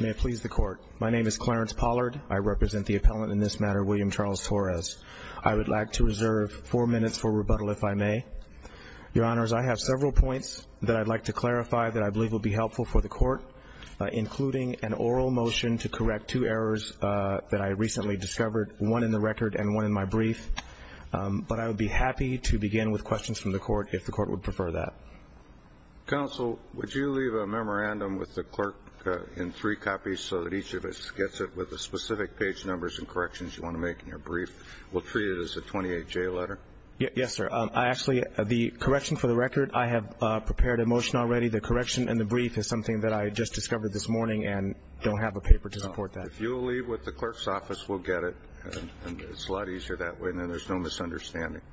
May it please the court. My name is Clarence Pollard. I represent the appellant in this matter, William Charles Torres. I would like to reserve four minutes for rebuttal if I may. Your Honors, I have several points that I'd like to clarify that I believe will be helpful for the court, including an oral motion to correct two errors that I recently discovered, one in the record and one in my brief. But I would be happy to begin with questions from the court if the court would prefer that. Counsel, would you leave a memorandum with the clerk in three copies so that each of us gets it with the specific page numbers and corrections you want to make in your brief? We'll treat it as a 28-J letter. Yes, sir. Actually, the correction for the record, I have prepared a motion already. The correction in the brief is something that I just discovered this morning and don't have a paper to support that. If you'll leave with the clerk's office, we'll get it. It's a lot easier that way.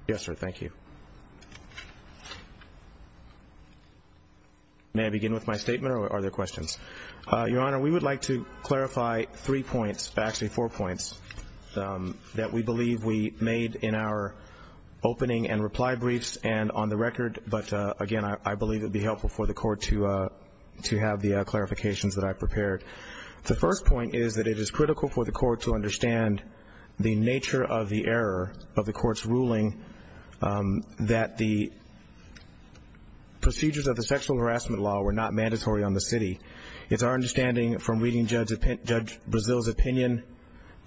Yes, sir. Thank you. May I begin with my statement or are there questions? Your Honor, we would like to clarify three points, actually four points, that we believe we made in our opening and reply briefs and on the record. But, again, I believe it would be helpful for the court to have the clarifications that I've prepared. The first point is that it is critical for the court to understand the nature of the error of the court's ruling that the procedures of the sexual harassment law were not mandatory on the city. It's our understanding from reading Judge Brazil's opinion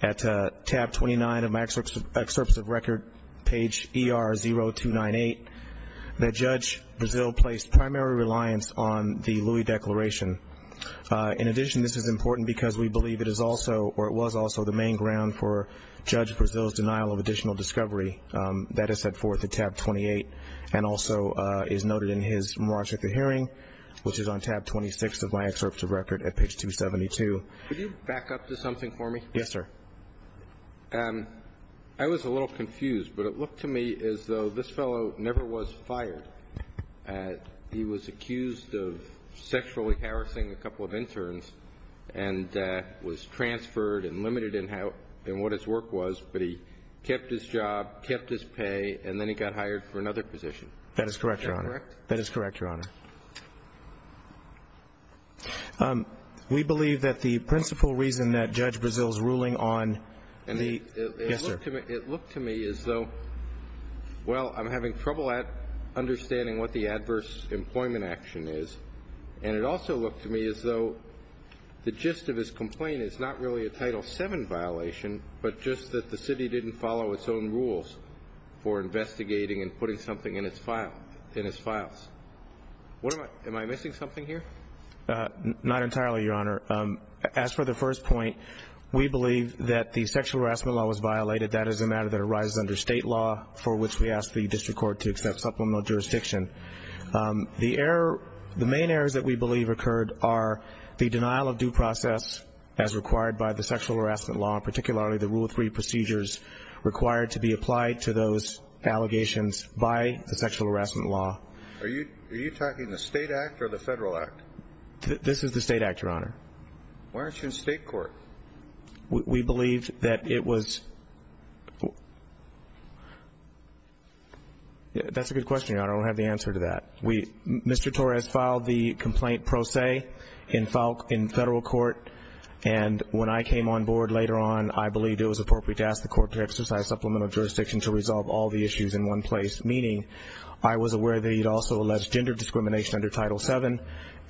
at tab 29 of my excerpts of record, page ER-0298, that Judge Brazil placed primary reliance on the Louis Declaration. In addition, this is important because we believe it is also or it was also the main ground for Judge Brazil's denial of additional discovery. That is set forth at tab 28 and also is noted in his more intricate hearing, which is on tab 26 of my excerpts of record at page 272. Could you back up to something for me? Yes, sir. I was a little confused, but it looked to me as though this fellow never was fired. He was accused of sexually harassing a couple of interns and was transferred and limited in what his work was, but he kept his job, kept his pay, and then he got hired for another position. That is correct, Your Honor. Is that correct? That is correct, Your Honor. We believe that the principal reason that Judge Brazil's ruling on the ---- Yes, sir. It looked to me as though, well, I'm having trouble understanding what the adverse employment action is, and it also looked to me as though the gist of his complaint is not really a Title VII violation but just that the city didn't follow its own rules for investigating and putting something in its files. Not entirely, Your Honor. As for the first point, we believe that the sexual harassment law was violated. That is a matter that arises under state law, for which we ask the district court to accept supplemental jurisdiction. The main errors that we believe occurred are the denial of due process, as required by the sexual harassment law, and particularly the Rule 3 procedures required to be applied to those allegations by the sexual harassment law. Are you talking the state act or the federal act? This is the state act, Your Honor. Why aren't you in state court? We believe that it was ---- That's a good question, Your Honor. I don't have the answer to that. Mr. Torres filed the complaint pro se in federal court, and when I came on board later on, I believed it was appropriate to ask the court to exercise supplemental jurisdiction to resolve all the issues in one place, meaning I was aware that he had also alleged gender discrimination under Title VII.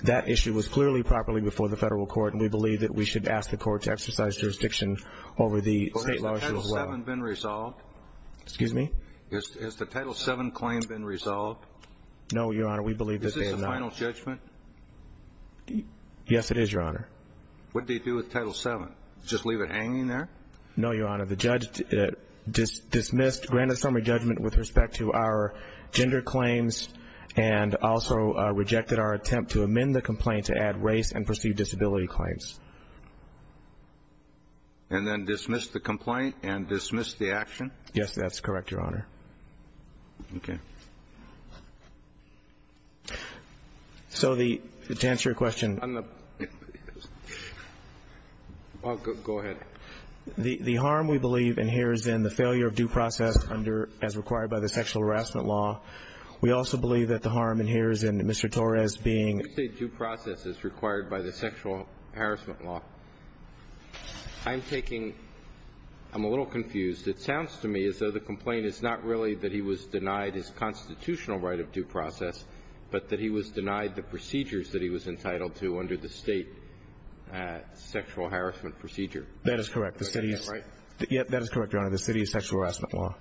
That issue was clearly properly before the federal court, and we believe that we should ask the court to exercise jurisdiction over the state law as well. Has the Title VII been resolved? Excuse me? Has the Title VII claim been resolved? No, Your Honor. We believe that they have not. Is this the final judgment? Yes, it is, Your Honor. What did he do with Title VII? Just leave it hanging there? No, Your Honor. The judge dismissed, granted summary judgment with respect to our gender claims and also rejected our attempt to amend the complaint to add race and perceived disability claims. And then dismissed the complaint and dismissed the action? Yes, that's correct, Your Honor. Okay. So to answer your question. Go ahead. The harm we believe in here is in the failure of due process as required by the sexual harassment law. We also believe that the harm in here is in Mr. Torres being... Due process as required by the sexual harassment law. I'm taking.. .I'm a little confused. It sounds to me as though the complaint is not really that he was denied his constitutional right of due process, but that he was denied the procedures that he was entitled to under the state sexual harassment procedure. That is correct. Is that right? Yes, that is correct, Your Honor. The city's sexual harassment law.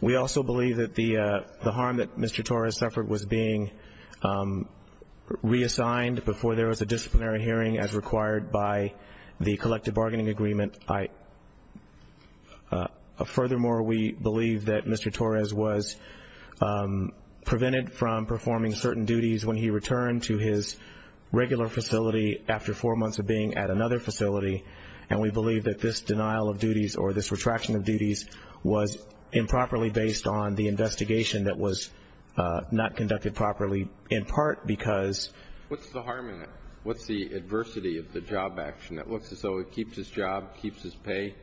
We also believe that the harm that Mr. Torres suffered was being reassigned before there was a disciplinary hearing as required by the collective bargaining agreement. Furthermore, we believe that Mr. Torres was prevented from performing certain duties when he returned to his regular facility after four months of being at another facility, and we believe that this denial of duties or this retraction of duties was improperly based on the investigation that was not conducted properly, in part because... What's the harm in it? What's the adversity of the job action that looks as though it keeps his job, keeps his pay,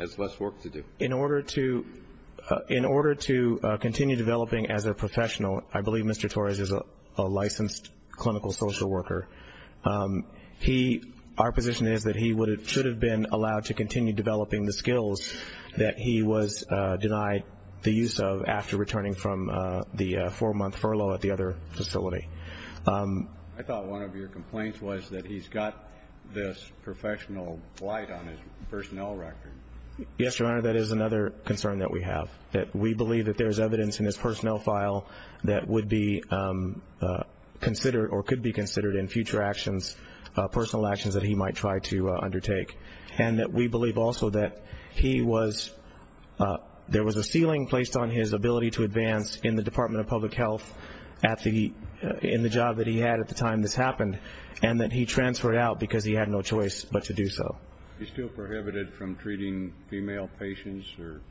has less work to do? In order to continue developing as a professional, I believe Mr. Torres is a licensed clinical social worker. Our position is that he should have been allowed to continue developing the skills that he was denied the use of after returning from the four-month furlough at the other facility. I thought one of your complaints was that he's got this professional blight on his personnel record. Yes, Your Honor, that is another concern that we have, that we believe that there is evidence in his personnel file that would be considered or could be considered in future actions, personal actions that he might try to undertake, and that we believe also that he was... There was a ceiling placed on his ability to advance in the Department of Public Health in the job that he had at the time this happened, and that he transferred out because he had no choice but to do so. He's still prohibited from treating female patients or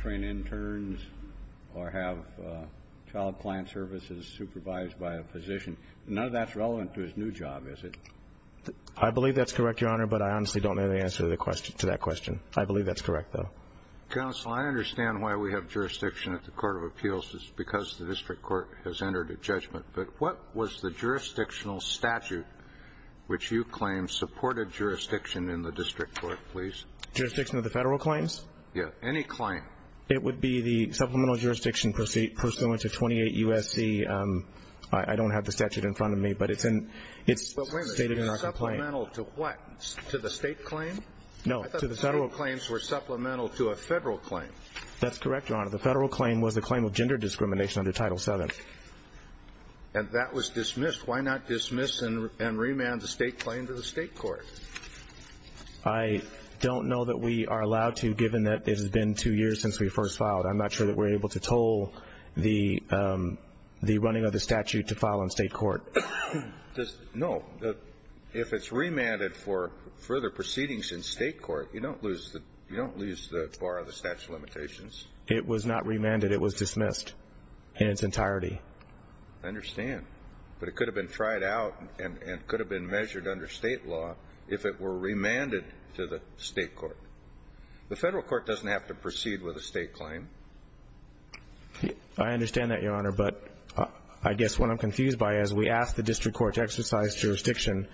train interns or have child client services supervised by a physician. None of that's relevant to his new job, is it? I believe that's correct, Your Honor, but I honestly don't know the answer to that question. I believe that's correct, though. Counsel, I understand why we have jurisdiction at the Court of Appeals. It's because the district court has entered a judgment. But what was the jurisdictional statute which you claim supported jurisdiction in the district court, please? Jurisdiction of the federal claims? Yes, any claim. It would be the supplemental jurisdiction pursuant to 28 U.S.C.... I don't have the statute in front of me, but it's stated in our complaint. Supplemental to what? To the state claim? No, to the federal... I thought state claims were supplemental to a federal claim. That's correct, Your Honor. The federal claim was the claim of gender discrimination under Title VII. And that was dismissed. Why not dismiss and remand the state claim to the state court? I don't know that we are allowed to, given that it has been two years since we first filed. I'm not sure that we're able to toll the running of the statute to file in state court. No, if it's remanded for further proceedings in state court, you don't lose the bar of the statute of limitations. It was not remanded. It was dismissed in its entirety. I understand. But it could have been tried out and could have been measured under state law if it were remanded to the state court. The federal court doesn't have to proceed with a state claim. I understand that, Your Honor. But I guess what I'm confused by is we asked the district court to exercise jurisdiction.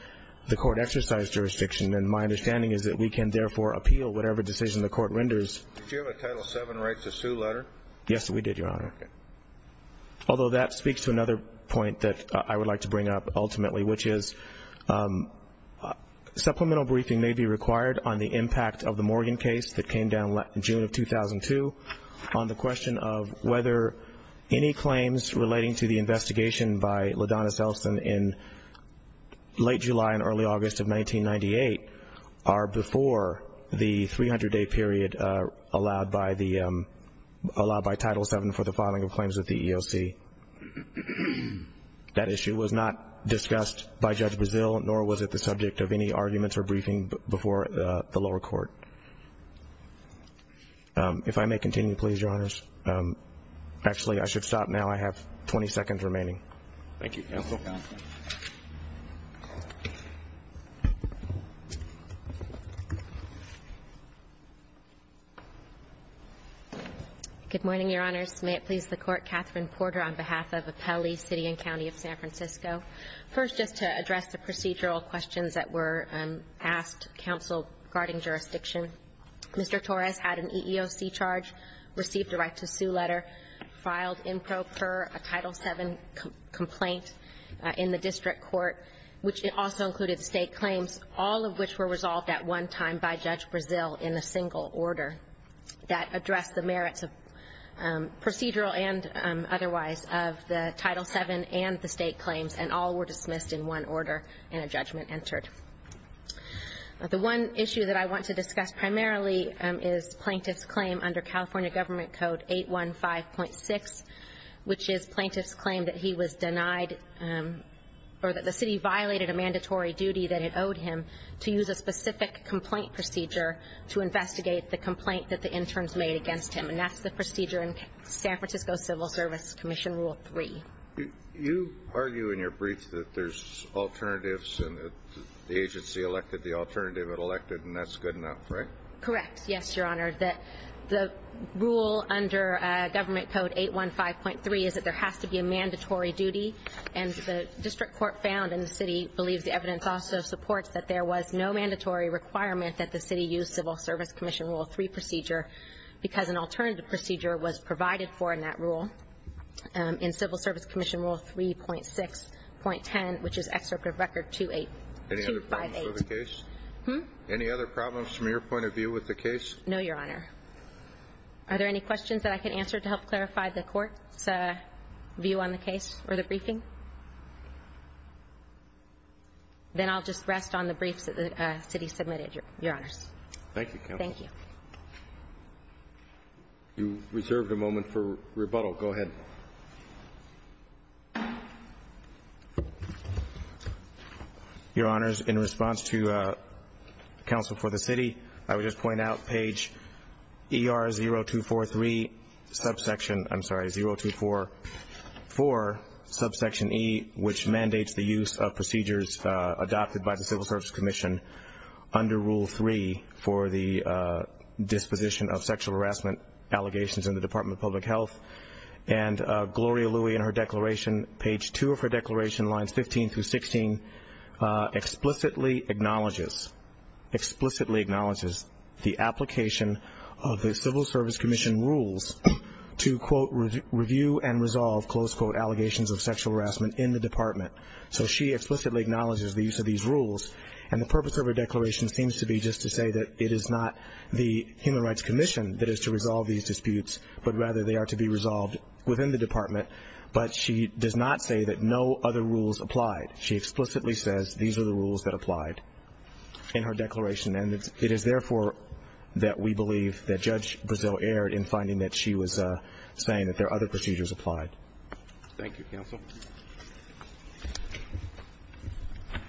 The court exercised jurisdiction. And my understanding is that we can therefore appeal whatever decision the court renders. Did you have a Title VII rights to sue letter? Yes, we did, Your Honor. Okay. Although that speaks to another point that I would like to bring up ultimately, which is supplemental briefing may be required on the impact of the Morgan case that came down in June of 2002 on the question of whether any claims relating to the investigation by LaDonna Selsen in late July and early August of 1998 are before the 300-day period allowed by Title VII for the filing of claims at the EOC. That issue was not discussed by Judge Brazil, nor was it the subject of any arguments or briefing before the lower court. If I may continue, please, Your Honors. Actually, I should stop now. I have 20 seconds remaining. Thank you. Thank you. Good morning, Your Honors. May it please the Court. Katherine Porter on behalf of Apelli City and County of San Francisco. First, just to address the procedural questions that were asked, counsel regarding jurisdiction, Mr. Torres had an EEOC charge, received a rights to sue letter, filed in pro per a Title VII complaint in the district court, which also included state claims, all of which were resolved at one time by Judge Brazil in a single order that addressed the merits of procedural and otherwise of the Title VII and the state claims, and all were dismissed in one order and a judgment entered. The one issue that I want to discuss primarily is plaintiff's claim under California Government Code 815.6, which is plaintiff's claim that he was denied or that the city violated a mandatory duty that it owed him to use a specific complaint procedure to investigate the complaint that the interns made against him, and that's the procedure in San Francisco Civil Service Commission Rule 3. You argue in your brief that there's alternatives and that the agency elected the alternative it elected, and that's good enough, right? Correct. Yes, Your Honor. The rule under Government Code 815.3 is that there has to be a mandatory duty, and the district court found, and the city believes the evidence also supports, that there was no mandatory requirement that the city use Civil Service Commission Rule 3 procedure because an alternative procedure was provided for in that rule in Civil Service Commission Rule 3.6.10, which is Excerpt of Record 258. Any other problems with the case? Hmm? Any other problems from your point of view with the case? No, Your Honor. Are there any questions that I can answer to help clarify the court's view on the case or the briefing? Then I'll just rest on the briefs that the city submitted, Your Honors. Thank you, Counsel. Thank you. You reserved a moment for rebuttal. Go ahead. Your Honors, in response to counsel for the city, I would just point out page ER0244, subsection E, which mandates the use of procedures adopted by the Civil Service Commission under Rule 3 for the disposition of sexual harassment allegations in the Department of Public Health. And Gloria Louis, in her declaration, page 2 of her declaration, lines 15 through 16, explicitly acknowledges the application of the Civil Service Commission rules to, quote, review and resolve, close quote, allegations of sexual harassment in the department. So she explicitly acknowledges the use of these rules. And the purpose of her declaration seems to be just to say that it is not the Human Rights Commission that is to resolve these disputes, but rather they are to be resolved within the department. But she does not say that no other rules applied. She explicitly says these are the rules that applied in her declaration. And it is, therefore, that we believe that Judge Brazil erred in finding that she was saying that there are other procedures applied. Thank you, Counsel.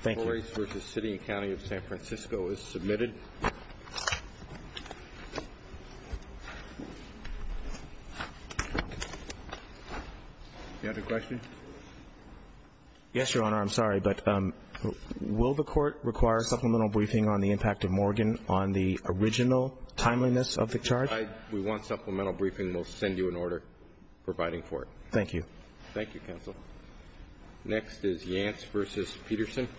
Thank you. The case for the City and County of San Francisco is submitted. Do you have a question? Yes, Your Honor. I'm sorry, but will the Court require a supplemental briefing on the impact of Morgan on the original timeliness of the charge? We want supplemental briefing. We'll send you an order providing for it. Thank you. Thank you, Counsel. Next is Yance v. Peterson.